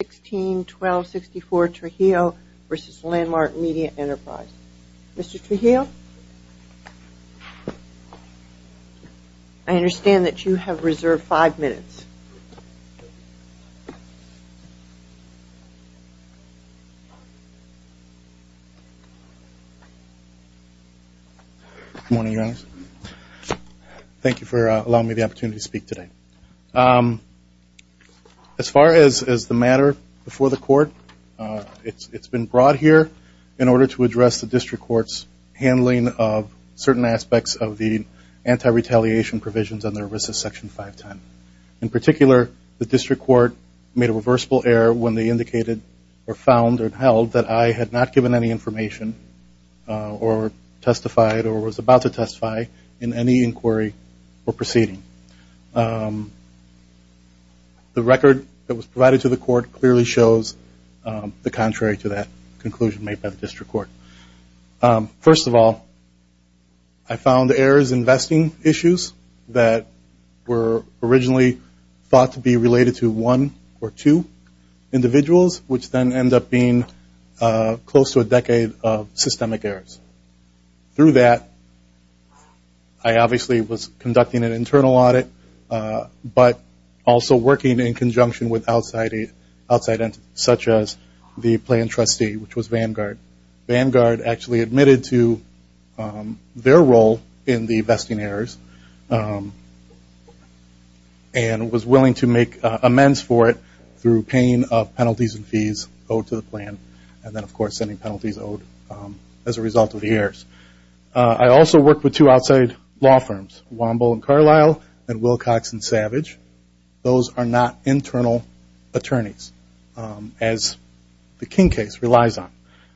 1264 Trujillo v. Landmark Media Enterprises. Mr. Trujillo, I understand that you have reserved five minutes. Good morning, Your Honor. Thank you for allowing me the opportunity to speak today. As far as the matter before the court, it's been brought here in order to address the District Court's handling of certain aspects of the anti-retaliation provisions under RISA Section 510. In particular, the District Court made a reversible error when they indicated or found or held that I had not given any information or testified or was about to testify in any inquiry or proceeding. The record that was provided to the court clearly shows the contrary to that conclusion made by the District Court. First of all, I found errors in vesting issues that were originally thought to be related to one or two individuals, which then end up being close to a decade of systemic errors. Through that, I obviously was conducting an internal audit, but also working in conjunction with outside entities, such as the Planned Trustee, which was Vanguard. Vanguard actually admitted to their role in the vesting errors and was willing to make a commitment that commenced for it through paying penalties and fees owed to the plan, and then of course sending penalties owed as a result of the errors. I also worked with two outside law firms, Wamble and Carlisle and Wilcox and Savage. Those are not internal attorneys, as the King case relies on.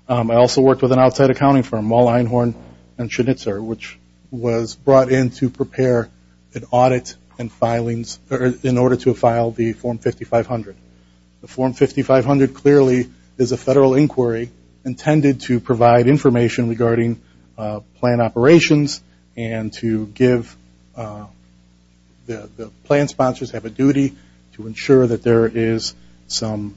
I also worked with an outside accounting firm, Wall Einhorn and Schnitzer, which was brought in to prepare an audit and filings in order to file the Form 5500. The Form 5500 clearly is a federal inquiry intended to provide information regarding plan operations and to give the plan sponsors have a duty to ensure that there is some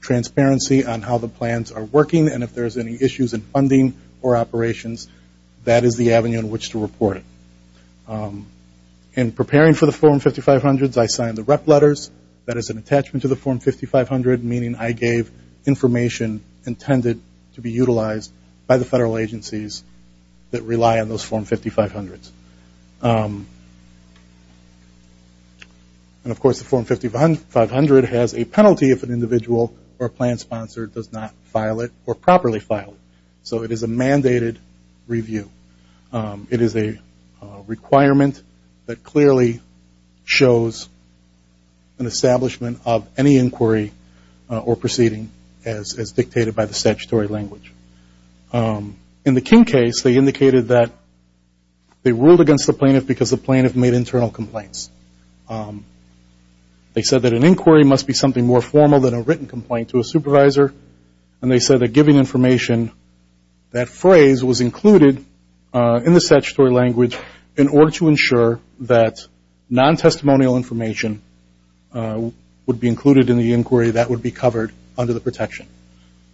transparency on how the plans are working and if there's any issues in funding or operations, that is the avenue in which to report it. In preparing for the Form 5500s, I signed the rep letters, that is an attachment to the Form 5500, meaning I gave information intended to be utilized by the federal agencies that rely on those Form 5500s. Of course the Form 5500 has a penalty if an individual or a plan sponsor does not file it or properly file it. So it is a mandated review. It is a requirement that clearly shows an establishment of any inquiry or proceeding as dictated by the statutory language. In the King case, they indicated that they ruled against the plaintiff because the plaintiff made internal complaints. They said that an inquiry must be something more formal than a written complaint to a supervisor and they said that giving information, that phrase was included in the statutory language in order to ensure that non-testimonial information would be included in the inquiry that would be covered under the protection.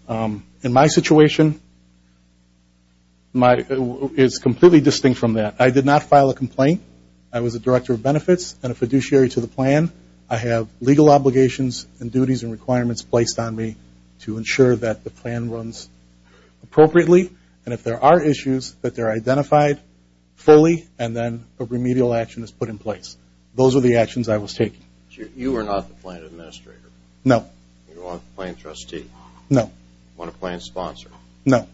In my situation, it is completely distinct from that. I did not file a complaint. I was a director of benefits and a fiduciary to the plan. I have legal obligations and duties and requirements placed on me to ensure that the plan runs appropriately and if there are issues that they are identified fully and then a remedial action is put in place. Those are the actions I was taking. You are not the plan administrator? No. You are not the plan trustee? No. You are not a plan sponsor? No.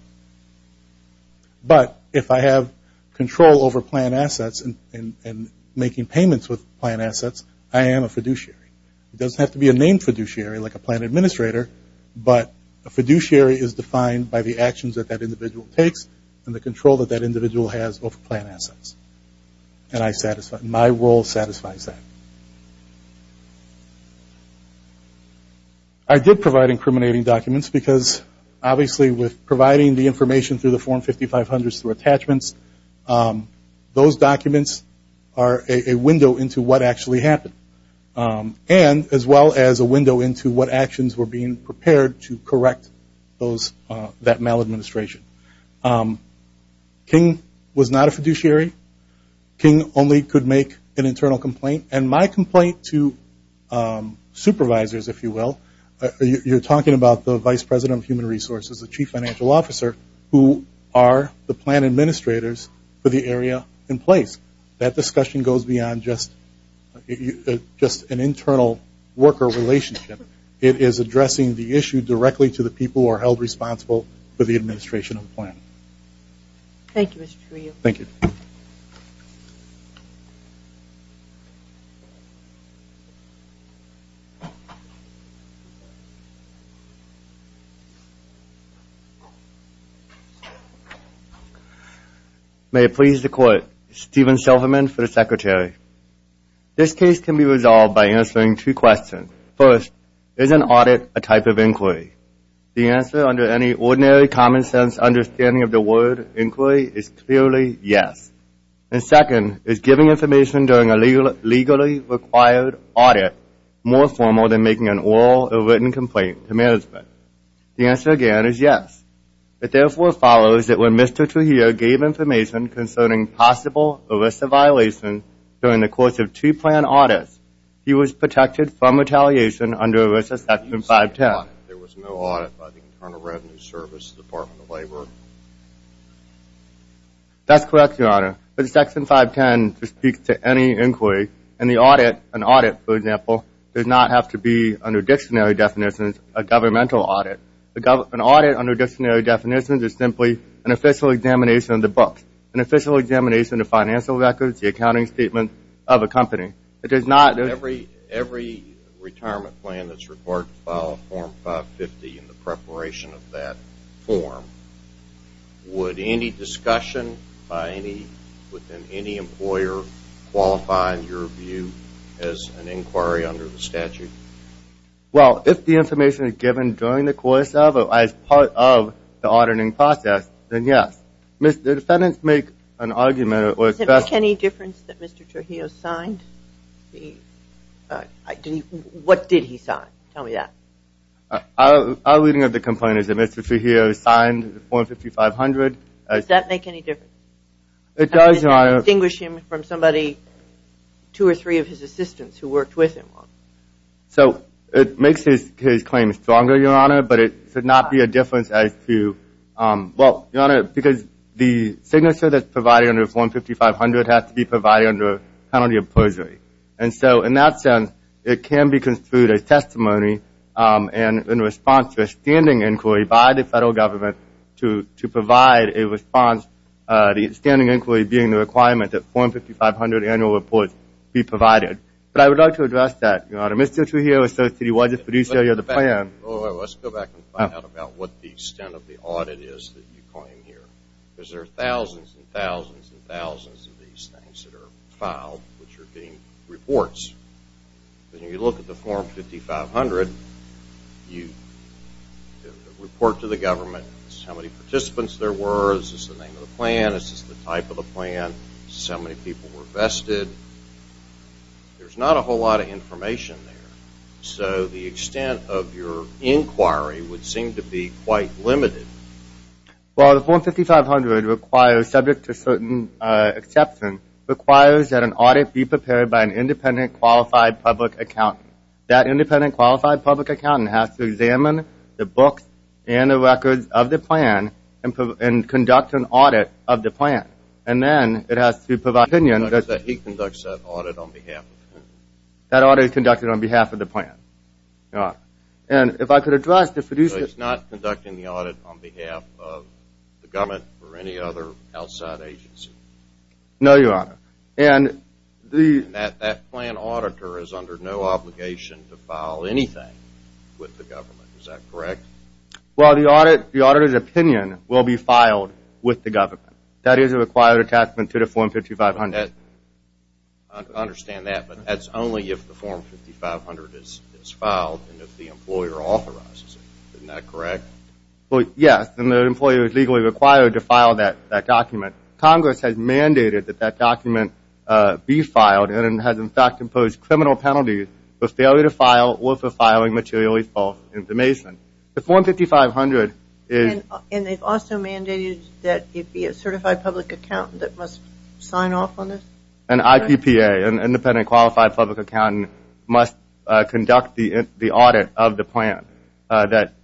But if I have control over plan assets and making payments with plan assets, I am a fiduciary. It doesn't have to be a named fiduciary like a plan administrator, but a fiduciary is defined by the actions that that individual takes and the control that that individual has over plan assets. And my role satisfies that. I did provide incriminating documents because obviously with providing the information through the form 5500 through attachments, those documents are a window into what actually happened. And as well as a window into what actions were being prepared to correct that maladministration. King was not a fiduciary. King only could make an internal complaint. And my complaint to supervisors, if you will, you are talking about the vice president of human resources, the chief financial officer, who are the plan administrators for the area in place. That is an internal worker relationship. It is addressing the issue directly to the people who are held responsible for the administration of the plan. Thank you, Mr. Trujillo. May it please the court, Steven Silverman for the secretary. This case can be resolved by answering two questions. First, is an audit a type of inquiry? The answer under any ordinary common sense understanding of the word inquiry is clearly yes. And second, is giving information during a legally required audit more formal than making an oral or written complaint to management? The answer again is yes. It therefore follows that when Mr. Trujillo gave information concerning possible ERISA violations during the course of two plan audits, he was protected from retaliation under ERISA section 510. That is correct, your honor. Section 510 speaks to any inquiry. An audit, for example, does not have to be, under dictionary definitions, a governmental audit. An audit under dictionary definitions is simply an official examination of the books, an official examination of financial records, and an official examination of the financial records of the government. Would any discussion within any employer qualify in your view as an inquiry under the statute? Well, if the information is given during the course of or as part of the auditing process, then yes. The defendants make an argument that it was best... Does it make any difference that Mr. Trujillo signed the... What did he sign? Tell me that. Our reading of the complaint is that Mr. Trujillo signed the form 5500 as... Does that make any difference? It does, your honor. Does that distinguish him from somebody, two or three of his assistants who worked with him? So, it makes his claim stronger, your honor, but it should not be a difference as to... Well, your honor, because the signature that's in form 5500 has to be provided under penalty of perjury. And so, in that sense, it can be construed as testimony and in response to a standing inquiry by the federal government to provide a response, the standing inquiry being the requirement that form 5500 annual reports be provided. But I would like to address that, your honor. Mr. Trujillo, associate widget producer of the plan... Let's go back and find out about what the extent of the audit is that you coin here. Because there are thousands and thousands and thousands of these things that are filed, which are being reports. When you look at the form 5500, you report to the government how many participants there were, is this the name of the plan, is this the type of the plan, how many people were vested. There's not a whole lot of information there. So, the extent of your inquiry would seem to be quite limited. Well, the form 5500 requires, subject to certain exception, requires that an audit be prepared by an independent, qualified public accountant. That independent, qualified public accountant has to examine the books and the records of the plan and conduct an audit of the plan. And then it has to provide opinion that... He conducts that audit on behalf of the plan. That audit is conducted on behalf of the plan, your honor. And if I could address the producer... So, he's not conducting the audit on behalf of the government or any other outside agency? No, your honor. And that plan auditor is under no obligation to file anything with the government, is that correct? Well, the auditor's opinion will be filed with the government. That is a required attachment to the form 5500. I understand that, but that's only if the form 5500 is filed and if the employer authorizes it. Isn't that correct? Well, yes. And the employer is legally required to file that document. Congress has mandated that that document be filed and has, in fact, imposed criminal penalties for failure to file or for filing materially false information. The form 5500 is... An IPPA, an independent qualified public accountant, must conduct the audit of the plan. That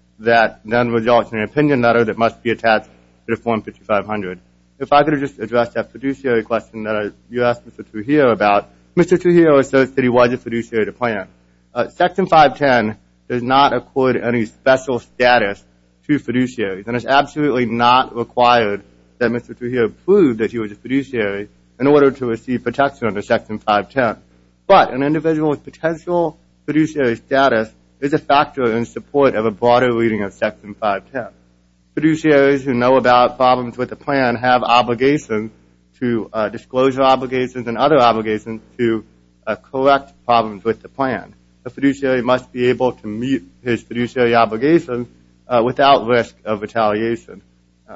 then results in an opinion letter that must be attached to the form 5500. If I could just address that fiduciary question that you asked Mr. Trujillo about. Mr. Trujillo asserts that he was a fiduciary of the plan. Section 510 does not accord any special status to fiduciaries. And it's absolutely not required that Mr. Trujillo prove that he was a fiduciary in order to receive protection under Section 510. But an individual with potential fiduciary status is a factor in support of a broader reading of Section 510. Fiduciaries who know about problems with the plan have obligations to... Disclosure obligations and other obligations to correct problems with the plan. A fiduciary must be able to meet his fiduciary obligations without risk of retaliation.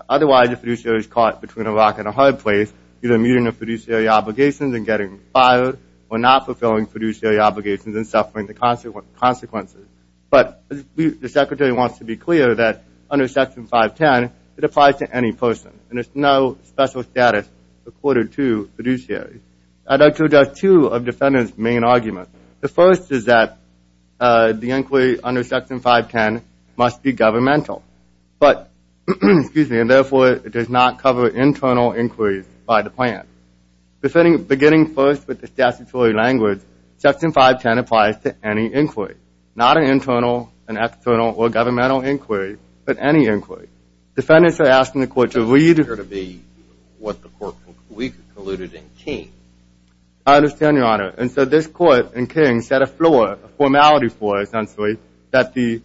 Otherwise, a fiduciary is caught between a rock and a hard place. Either meeting the fiduciary obligations and getting fired or not fulfilling fiduciary obligations and suffering the consequences. But the Secretary wants to be clear that under Section 510, it applies to any person. And there's no special status accorded to fiduciaries. I'd like to address two of the Defendant's main arguments. The first is that the inquiry under Section 510 must be governmental. And therefore, it does not cover internal inquiries by the plan. Beginning first with the statutory language, Section 510 applies to any inquiry. Not an internal, an external, or governmental inquiry, but any inquiry. Defendants are asking the Court to read... That doesn't appear to be what the Court concluded in King. I understand, Your Honor. And so this Court, in King, set a floor, a formality floor, essentially, that the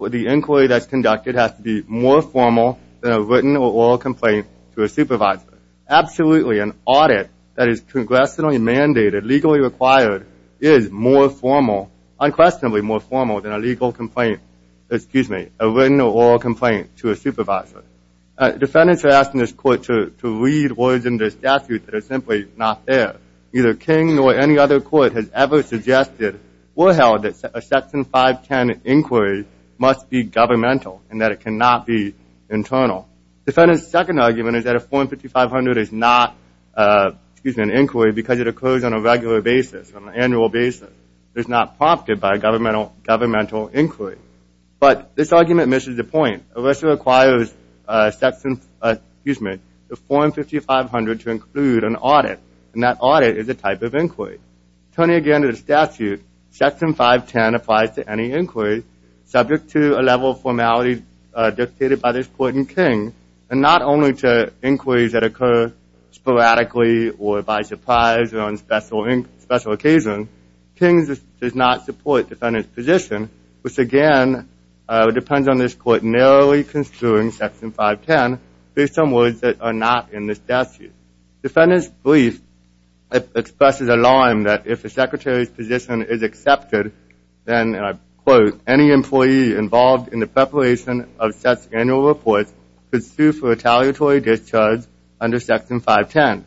inquiry that's conducted has to be more formal than a written or oral complaint to a supervisor. Absolutely, an audit that is congressionally mandated, legally required, is more formal, unquestionably more formal, than a legal complaint, excuse me, a written or oral complaint to a supervisor. Defendants are asking this Court to read words in the statute that are simply not there. Neither King nor any other Court has ever suggested or held that a Section 510 inquiry must be governmental and that it cannot be internal. Defendants' second argument is that a Form 5500 is not an inquiry because it occurs on a regular basis, on an annual basis. It's not prompted by a governmental inquiry. But this argument misses the point. It also requires Section, excuse me, the Form 5500 to include an audit, and that audit is a type of inquiry. Turning again to the statute, Section 510 applies to any inquiry subject to a level of formality dictated by this Court in King, and not only to inquiries that occur sporadically or by surprise or on special occasion. King does not support defendants' position, which again depends on this Court narrowly construing Section 510 based on words that are not in this statute. Defendants' brief expresses alarm that if a secretary's position is accepted, then, and I quote, any employee involved in the preparation of such annual reports could sue for retaliatory discharge under Section 510.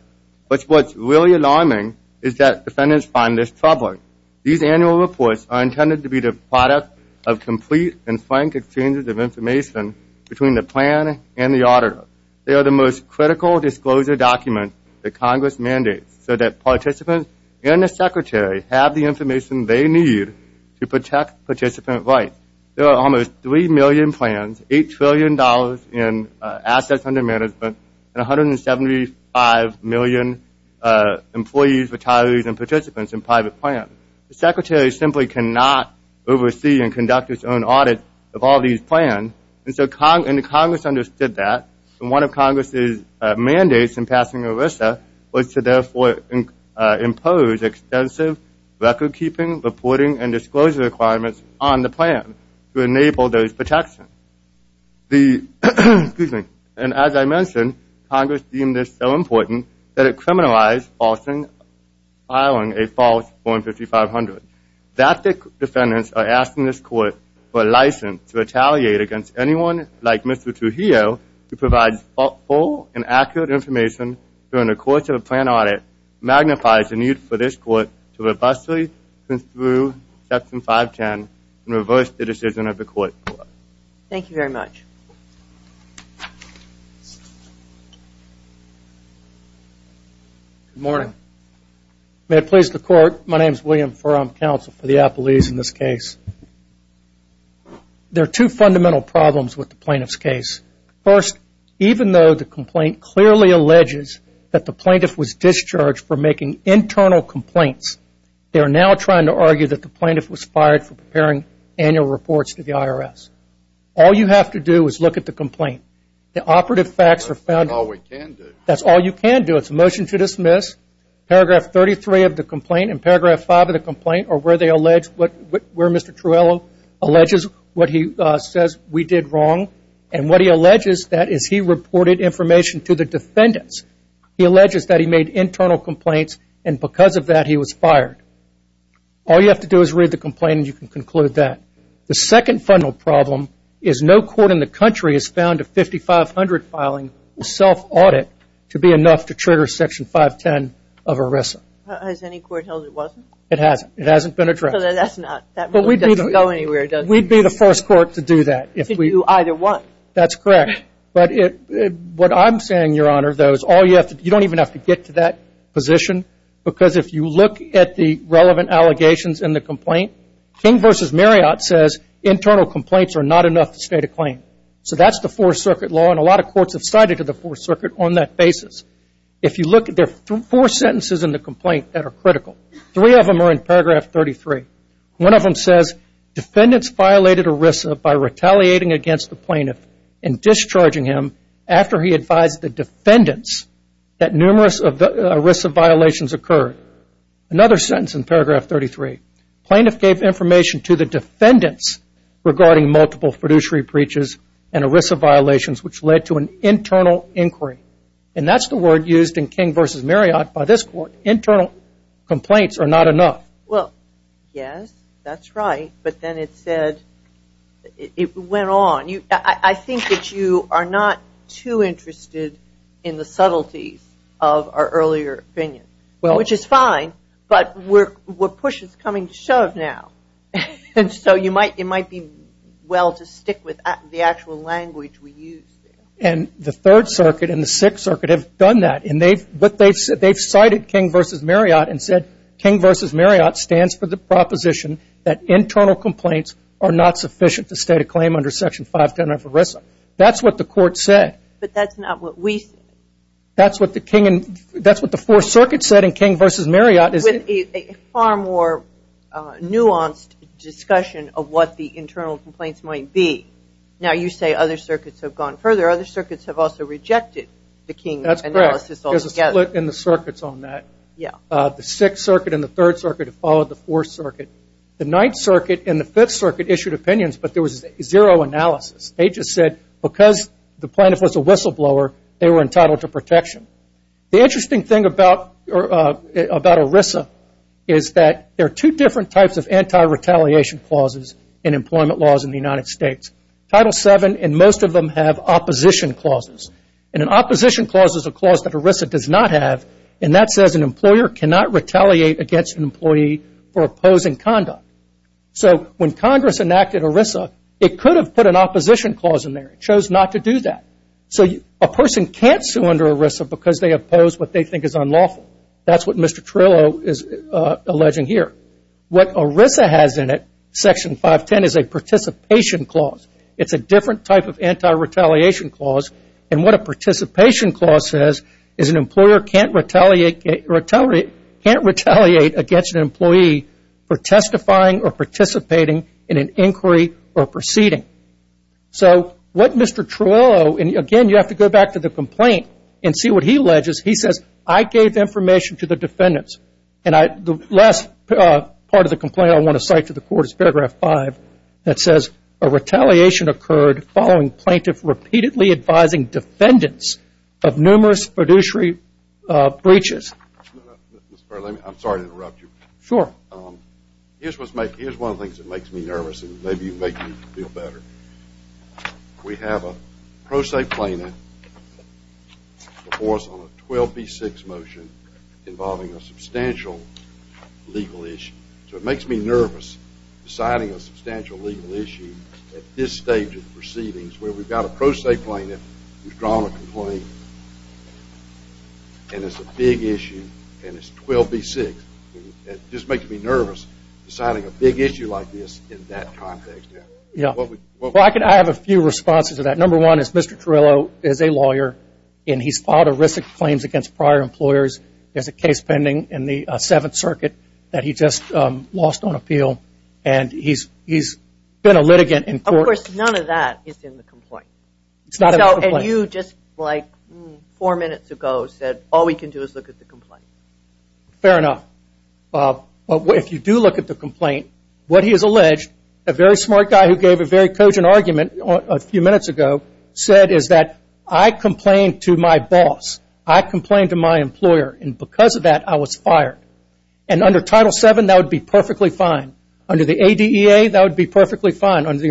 But what's really alarming is that defendants find this troubling. These annual reports are intended to be the product of complete and frank exchanges of information between the plan and the auditor. They are the most critical disclosure documents that Congress mandates so that participants and the secretary have the information they need to protect participant rights. There are almost 3 million plans, $8 trillion in assets under management, and $175 million employees, retirees, and participants in private plans. The secretary simply cannot oversee and conduct its own audit of all these plans, and so Congress understood that, and one of Congress's mandates in passing ERISA was to therefore impose extensive recordkeeping, reporting, and disclosure requirements on the plan to enable those protections. The, excuse me, and as I mentioned, Congress deemed this so important that it criminalized filing a false form 5500. That the defendants are asking this court for a license to retaliate against anyone like Mr. Trujillo who provides full and accurate information during the course of a plan audit magnifies the need for this court to robustly construe Section 510 and reverse the decision of the court. Thank you very much. Good morning. May it please the court, my name is William Furham, counsel for the appellees in this case. There are two fundamental problems with the plaintiff's case. First, even though the complaint clearly alleges that the plaintiff was discharged for making internal complaints, they are now trying to argue that the plaintiff was fired for preparing annual reports to the IRS. All you have to do is look at the complaint. The operative facts are found. That's all we can do. That's all you can do. It's a motion to dismiss. Paragraph 33 of the complaint and paragraph 5 of the complaint are where they allege, where Mr. Trujillo alleges what he says we did wrong, and what he alleges that is he reported information to the defendants. He alleges that he made internal complaints and because of that he was fired. All you have to do is read the complaint and you can conclude that. The second fundamental problem is no court in the country has found a 5500 filing self-audit to be enough to trigger section 510 of ERISA. Has any court held it wasn't? It hasn't. It hasn't been addressed. So that's not, that really doesn't go anywhere, does it? We'd be the first court to do that. To do either one. That's correct. But what I'm saying, Your Honor, though, is you don't even have to get to that position because if you look at the relevant allegations in the complaint, King v. Marriott says internal complaints are not enough to state a claim. So that's the Fourth Circuit law and a lot of courts have cited to the Fourth Circuit on that basis. If you look at the four sentences in the complaint that are critical, three of them are in paragraph 33. One of them says defendants violated ERISA by retaliating against the plaintiff and discharging him after he advised the defendants that numerous ERISA violations occurred. Another sentence in paragraph 33. Plaintiff gave information to the defendants regarding multiple fiduciary breaches and ERISA violations which led to an internal inquiry. And that's the word used in King v. Marriott by this court, internal complaints are not enough. Well, yes, that's right. But then it said, it went on. I think that you are not too interested in the subtleties of our earlier opinion, which is fine, but what push is coming to shove now. And so it might be well to stick with the actual language we use there. And the Third Circuit and the Sixth Circuit have done that and they've cited King v. Marriott and said King v. Marriott stands for the proposition that internal complaints are not sufficient to state a claim under Section 510 of ERISA. That's what the court said. But that's not what we said. That's what the King and that's what the Fourth Circuit said in King v. Marriott is it. With a far more nuanced discussion of what the internal complaints might be. Now you say other circuits have gone further. Other circuits have also rejected the King analysis altogether. That's correct. There's a split in the circuits on that. Yeah. The Sixth Circuit and the Third Circuit have followed the Fourth Circuit. The Ninth Circuit and the Fifth Circuit issued opinions, but there was zero analysis. They just said because the plaintiff was a whistleblower, they were entitled to protection. The interesting thing about ERISA is that there are two different types of anti-retaliation clauses in employment laws in the United States. Title VII and most of them have opposition clauses. And an opposition clause is a clause that ERISA does not have and that says an employer cannot retaliate against an employee for opposing conduct. So when Congress enacted ERISA, it could have put an opposition clause in there. It chose not to do that. So a person can't sue under ERISA because they oppose what they think is unlawful. That's what Mr. Trillo is alleging here. What ERISA has in it, Section 510, is a participation clause. It's a different type of anti-retaliation clause. And what a participation clause says is an employer can't retaliate against an employee for testifying or participating in an inquiry or proceeding. So what Mr. Trillo, and again, you have to go back to the complaint and see what he alleges. He says, I gave information to the defendants. And the last part of the complaint I want to cite to the court is paragraph 5 that says a retaliation occurred following plaintiff repeatedly advising defendants of numerous fiduciary breaches. Mr. Perlin, I'm sorry to interrupt you. Sure. Here's one of the things that makes me nervous, and maybe you make me feel better. We have a pro se plaintiff before us on a 12B6 motion involving a substantial legal issue. So it makes me nervous deciding a substantial legal issue at this stage of the proceedings where we've got a pro se plaintiff who's drawn a complaint, and it's a big issue, and it's 12B6. And it just makes me nervous deciding a big issue like this in that context. Yeah. Well, I have a few responses to that. Number one is Mr. Trillo is a lawyer, and he's filed a risk of claims against prior employers. There's a case pending in the Seventh Circuit that he just lost on appeal, and he's been a litigant in court. Of course, none of that is in the complaint. It's not in the complaint. And you just like four minutes ago said all we can do is look at the complaint. Fair enough. But if you do look at the complaint, what he has alleged, a very smart guy who gave a very cogent argument a few minutes ago, said is that I complained to my boss. I complained to my employer, and because of that, I was fired. And under Title VII, that would be perfectly fine. Under the ADEA, that would be perfectly fine. Under the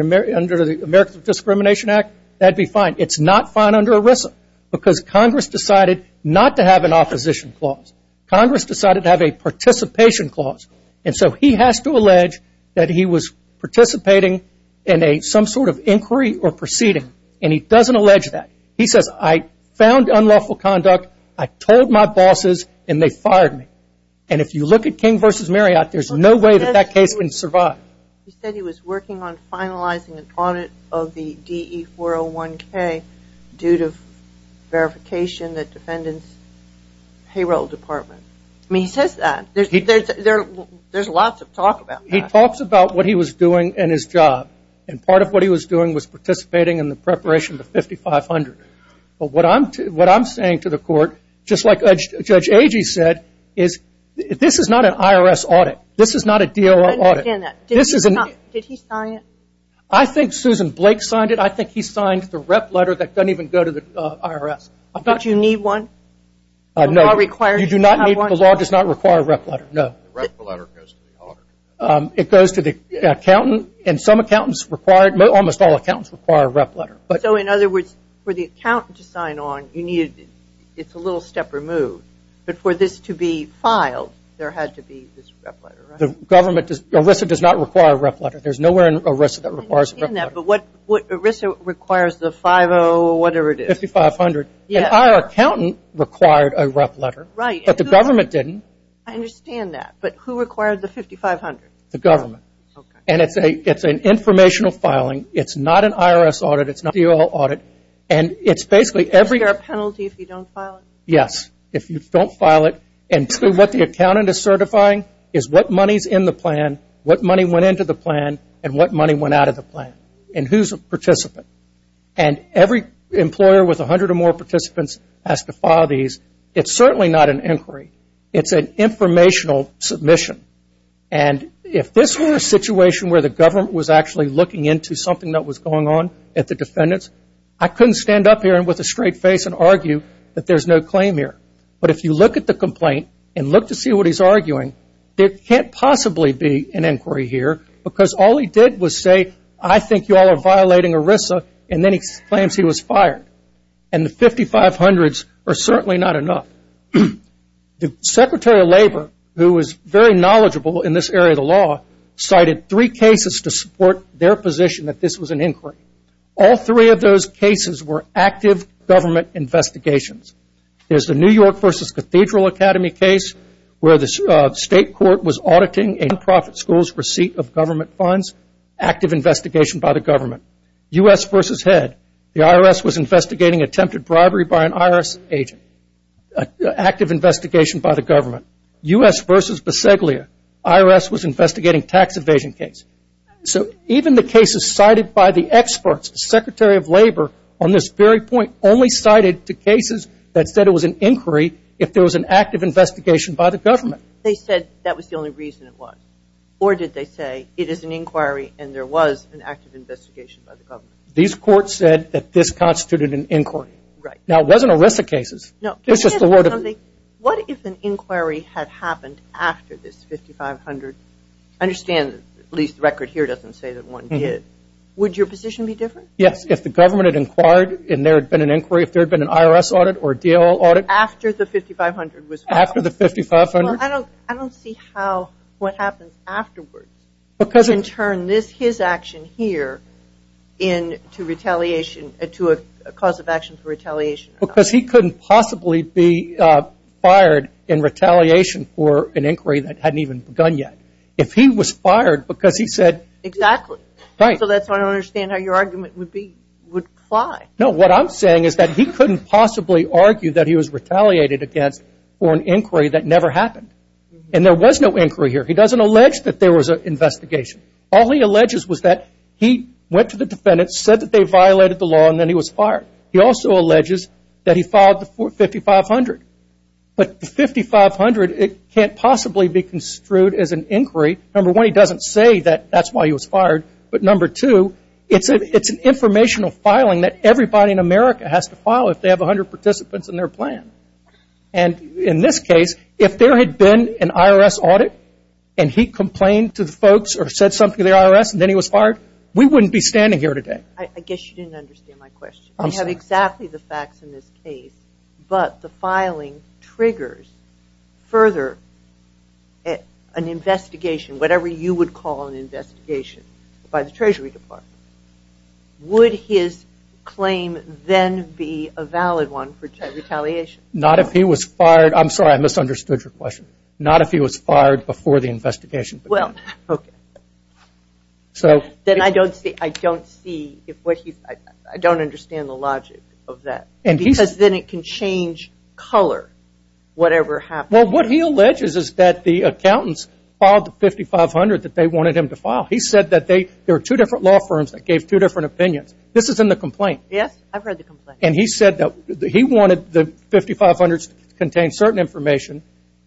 Americans with Discrimination Act, that would be fine. It's not fine under ERISA because Congress decided not to have an opposition clause. Congress decided to have a participation clause. And so he has to allege that he was participating in some sort of inquiry or proceeding, and he doesn't allege that. He says, I found unlawful conduct, I told my bosses, and they fired me. And if you look at King v. Marriott, there's no way that that case can survive. He said he was working on finalizing an audit of the DE-401K due to verification that defendants payroll department. I mean, he says that. There's lots of talk about that. He talks about what he was doing in his job, and part of what he was doing was participating in the preparation of the 5500. But what I'm saying to the court, just like Judge Agee said, is this is not an IRS audit. This is not a DOI audit. I don't understand that. Did he sign it? I think Susan Blake signed it. I think he signed the rep letter that doesn't even go to the IRS. Don't you need one? No. The law requires you to have one. You do not need one. The law does not require a rep letter. No. The rep letter goes to the auditor. It goes to the accountant. And some accountants require, almost all accountants require a rep letter. So, in other words, for the accountant to sign on, you need, it's a little step removed. But for this to be filed, there had to be this rep letter, right? ERISA does not require a rep letter. There's nowhere in ERISA that requires a rep letter. I understand that, but ERISA requires the 50, whatever it is. 5500. And our accountant required a rep letter. Right. I understand that. But who required the 5500? The government. Okay. And it's an informational filing. It's not an IRS audit. It's not a DOL audit. And it's basically every... Is there a penalty if you don't file it? Yes. If you don't file it. And what the accountant is certifying is what money's in the plan, what money went into the plan, and what money went out of the plan. And who's a participant. And every employer with 100 or more participants has to file these. It's certainly not an inquiry. It's an informational submission. And if this were a situation where the government was actually looking into something that was going on at the defendants, I couldn't stand up here with a straight face and argue that there's no claim here. But if you look at the complaint and look to see what he's arguing, there can't possibly be an inquiry here. Because all he did was say, I think you all are violating ERISA. And then he claims he was fired. And the 5500s are certainly not enough. The Secretary of Labor, who is very knowledgeable in this area of the law, cited three cases to support their position that this was an inquiry. All three of those cases were active government investigations. There's the New York versus Cathedral Academy case where the state court was auditing a non-profit school's receipt of government funds. Active investigation by the government. U.S. versus head. The IRS was investigating attempted bribery by an IRS agent. Active investigation by the government. U.S. versus Bisseglia. IRS was investigating tax evasion case. So even the cases cited by the experts, the Secretary of Labor on this very point only cited the cases that said it was an inquiry if there was an active investigation by the government. They said that was the only reason it was. Or did they say it is an inquiry and there was an active investigation by the government? These courts said that this constituted an inquiry. Now it wasn't a list of cases. It was just a load of... No. Can I ask you something? What if an inquiry had happened after this 5500? I understand, at least the record here doesn't say that one did. Would your position be different? Yes. If the government had inquired and there had been an inquiry, if there had been an IRS audit or a DLL audit... After the 5500 was filed. After the 5500. Well, I don't see how what happens afterwards. In turn, his action here in to retaliation, to a cause of action for retaliation. Because he couldn't possibly be fired in retaliation for an inquiry that hadn't even begun yet. If he was fired because he said... Exactly. Right. So that's why I don't understand how your argument would be, would apply. No. What I'm saying is that he couldn't possibly argue that he was retaliated against for an inquiry that never happened. And there was no inquiry here. He doesn't allege that there was an investigation. All he alleges was that he went to the defendants, said that they violated the law, and then he was fired. He also alleges that he filed the 5500. But the 5500, it can't possibly be construed as an inquiry. Number one, he doesn't say that that's why he was fired. But number two, it's an informational filing that everybody in America has to file if they have 100 participants in their plan. And in this case, if there had been an IRS audit and he complained to the folks or said something to the IRS and then he was fired, we wouldn't be standing here today. I guess you didn't understand my question. I'm sorry. We have exactly the facts in this case, but the filing triggers further an investigation, whatever you would call an investigation, by the Treasury Department. Would his claim then be a valid one for retaliation? Not if he was fired. I'm sorry. I misunderstood your question. Not if he was fired before the investigation began. Well, okay. Then I don't see, I don't see, I don't understand the logic of that because then it can change color whatever happens. Well, what he alleges is that the accountants filed the 5500 that they wanted him to file. He said that there are two different law firms that gave two different opinions. This is in the complaint. Yes. I've read the complaint. And he said that he wanted the 5500s to contain certain information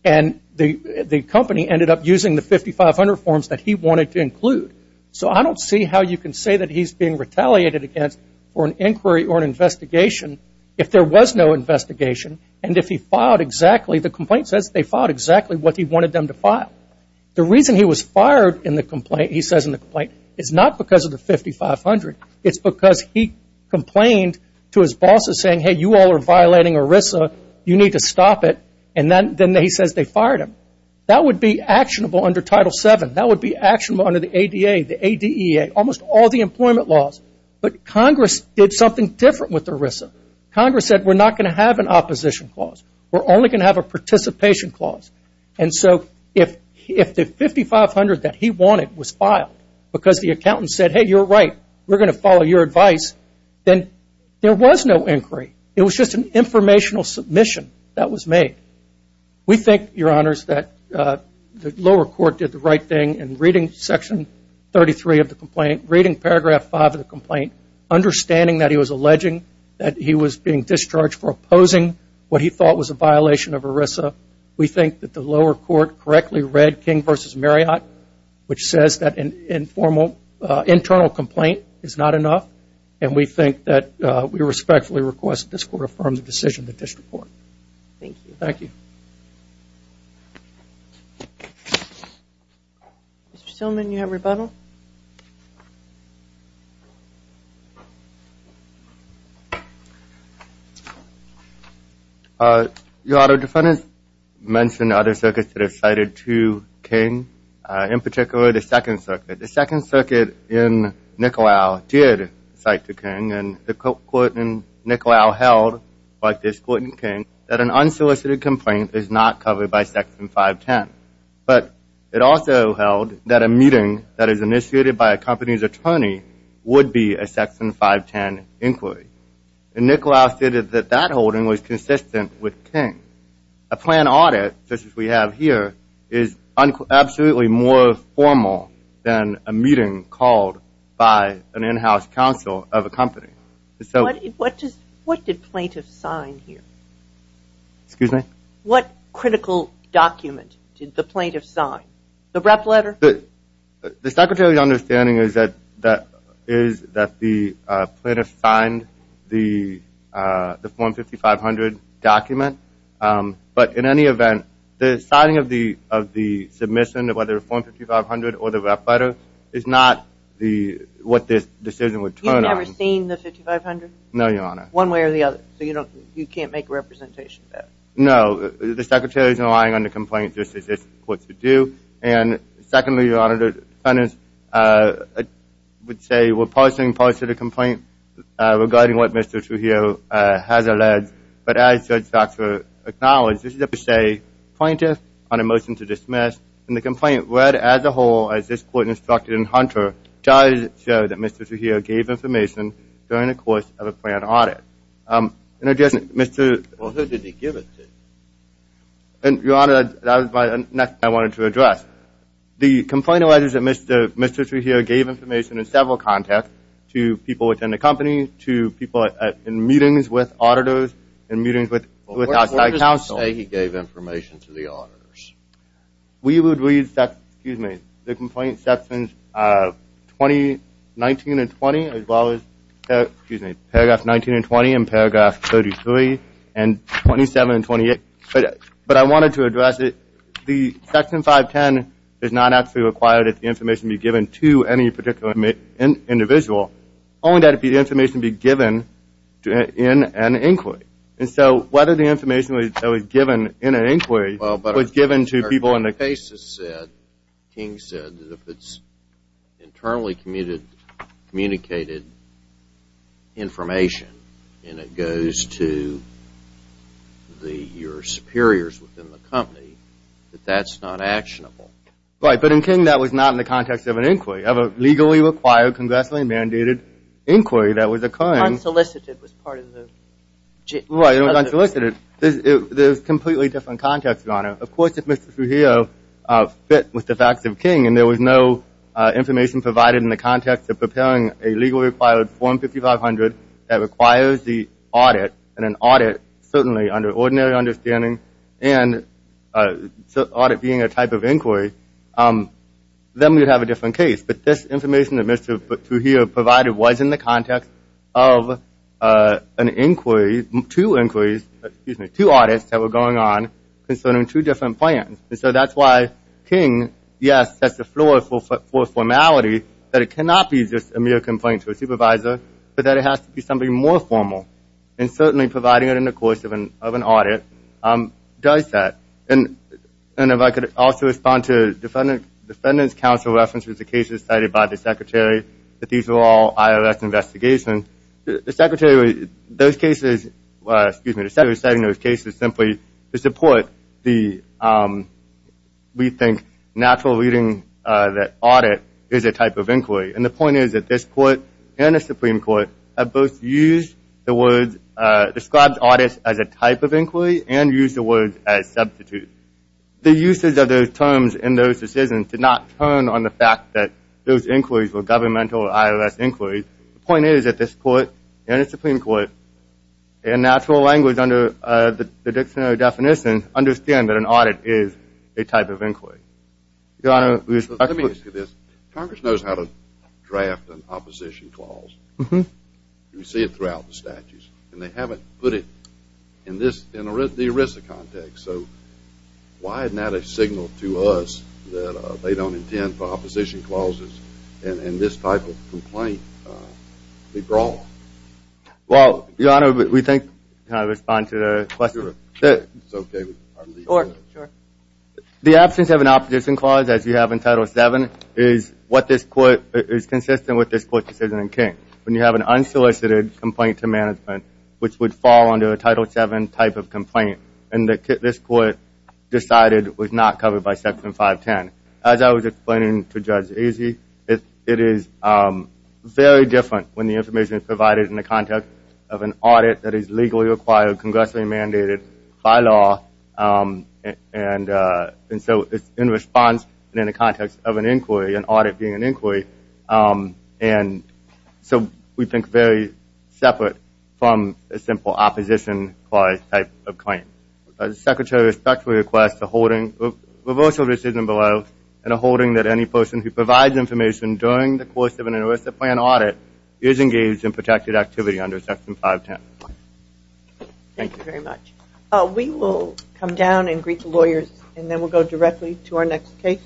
and the company ended up using the 5500 forms that he wanted to include. So I don't see how you can say that he's being retaliated against for an inquiry or an investigation if there was no investigation and if he filed exactly, the complaint says they filed exactly what he wanted them to file. The reason he was fired in the complaint, he says in the complaint, is not because of the 5500. It's because he complained to his bosses saying, hey, you all are violating ERISA. You need to stop it. And then he says they fired him. That would be actionable under Title VII. That would be actionable under the ADA, the ADEA, almost all the employment laws. But Congress did something different with ERISA. Congress said we're not going to have an opposition clause. We're only going to have a participation clause. And so if the 5500 that he wanted was filed because the accountant said, hey, you're right, we're going to follow your advice, then there was no inquiry. It was just an informational submission that was made. We think, Your Honors, that the lower court did the right thing in reading Section 33 of the complaint, reading Paragraph 5 of the complaint, understanding that he was alleging that he was being discharged for opposing what he thought was a violation of ERISA. We think that the lower court correctly read King v. Marriott, which says that an informal internal complaint is not enough. And we think that we respectfully request that this court affirm the decision of the district court. Thank you. Thank you. Mr. Stillman, you have rebuttal. Your Honor, defendants mentioned other circuits that have cited to King, in particular the Second Circuit. The Second Circuit in Nicolau did cite to King, and the court in Nicolau held, like this court in King, that an unsolicited complaint is not covered by Section 510. But it also held that a meeting that is initiated by a company's attorney would be a Section 510 inquiry. And Nicolau stated that that holding was consistent with King. A planned audit, such as we have here, is absolutely more formal than a meeting called by an in-house counsel of a company. So what did plaintiffs sign here? Excuse me? What critical document did the plaintiff sign? The rep letter? The Secretary's understanding is that the plaintiff signed the form 5500 document. But in any event, the signing of the submission of whether form 5500 or the rep letter is not what this decision would turn on. You've never seen the 5500? No, Your Honor. One way or the other. So you can't make a representation of that? No. The Secretary's relying on the complaint just as this court should do. And secondly, Your Honor, the defendants would say we're parsing parts of the complaint regarding what Mr. Trujillo has alleged. But as Judge Stocksworth acknowledged, this is a per se plaintiff on a motion to dismiss. And the complaint read as a whole, as this court instructed in Hunter, does show that Mr. Trujillo gave information during the course of a planned audit. In addition, Mr. Well, who did he give it to? And Your Honor, that was the next thing I wanted to address. The complainant alleged that Mr. Trujillo gave information in several contexts to people within the company, to people in meetings with auditors, in meetings with outside counsel. Well, where does it say he gave information to the auditors? We would read, excuse me, the complaint sections 19 and 20 as well as, paragraph 19 and 20 and paragraph 33 and 27 and 28. But I wanted to address it, the section 510 is not actually required that the information be given to any particular individual, only that the information be given in an inquiry. And so whether the information that was given in an inquiry was given to people in the Right, but in King, that was not in the context of an inquiry. Of a legally required, congressionally mandated inquiry that was occurring. Unsolicited was part of the... Right, it was unsolicited. Of course, if Mr. Trujillo fit with the facts of King and there was no information provided in the context of preparing a legally required form 5500 that requires the audit, and an audit certainly under ordinary understanding, and audit being a type of inquiry, then we would have a different case. But this information that Mr. Trujillo provided was in the context of an inquiry, two inquiries, excuse me, two audits that were going on concerning two different plans. And so that's why King, yes, sets the floor for formality, that it cannot be just a mere complaint to a supervisor, but that it has to be something more formal. And certainly providing it in the course of an audit does that. And if I could also respond to defendant's counsel references, the cases cited by the secretary, that these were all IRS investigations. The secretary, those cases, excuse me, the secretary cited those cases simply to support the, we think, natural reading that audit is a type of inquiry. And the point is that this court and the Supreme Court have both used the words, described audits as a type of inquiry and used the words as substitutes. The uses of those terms in those decisions did not turn on the fact that those inquiries were governmental IRS inquiries. The point is that this court and the Supreme Court, in natural language under the dictionary definition, understand that an audit is a type of inquiry. Your Honor, we expect to look at this. Congress knows how to draft an opposition clause. You see it throughout the statutes. And they haven't put it in this, in the ERISA context. So why isn't that a signal to us that they don't intend for opposition clauses in this type of complaint to be brought? Well, Your Honor, we think, can I respond to the question? Sure, sure, it's okay, I'll leave it there. The absence of an opposition clause, as you have in Title VII, is what this court, is consistent with this court's decision in King. When you have an unsolicited complaint to management, which would fall under a Title VII type of complaint, and this court decided it was not covered by Section 510. As I was explaining to Judge Azee, it is very different when the information is provided in the context of an audit that is legally required, congressionally mandated, by law. And so it's in response and in the context of an inquiry, an audit being an inquiry. And so we think very separate from a simple opposition clause type of claim. The Secretary respectfully requests a holding, reversal of decision below, and a holding that any person who provides information during the course of an ERISA plan audit is engaged in protected activity under Section 510. Thank you very much. We will come down and greet the lawyers, and then we'll go directly to our next case.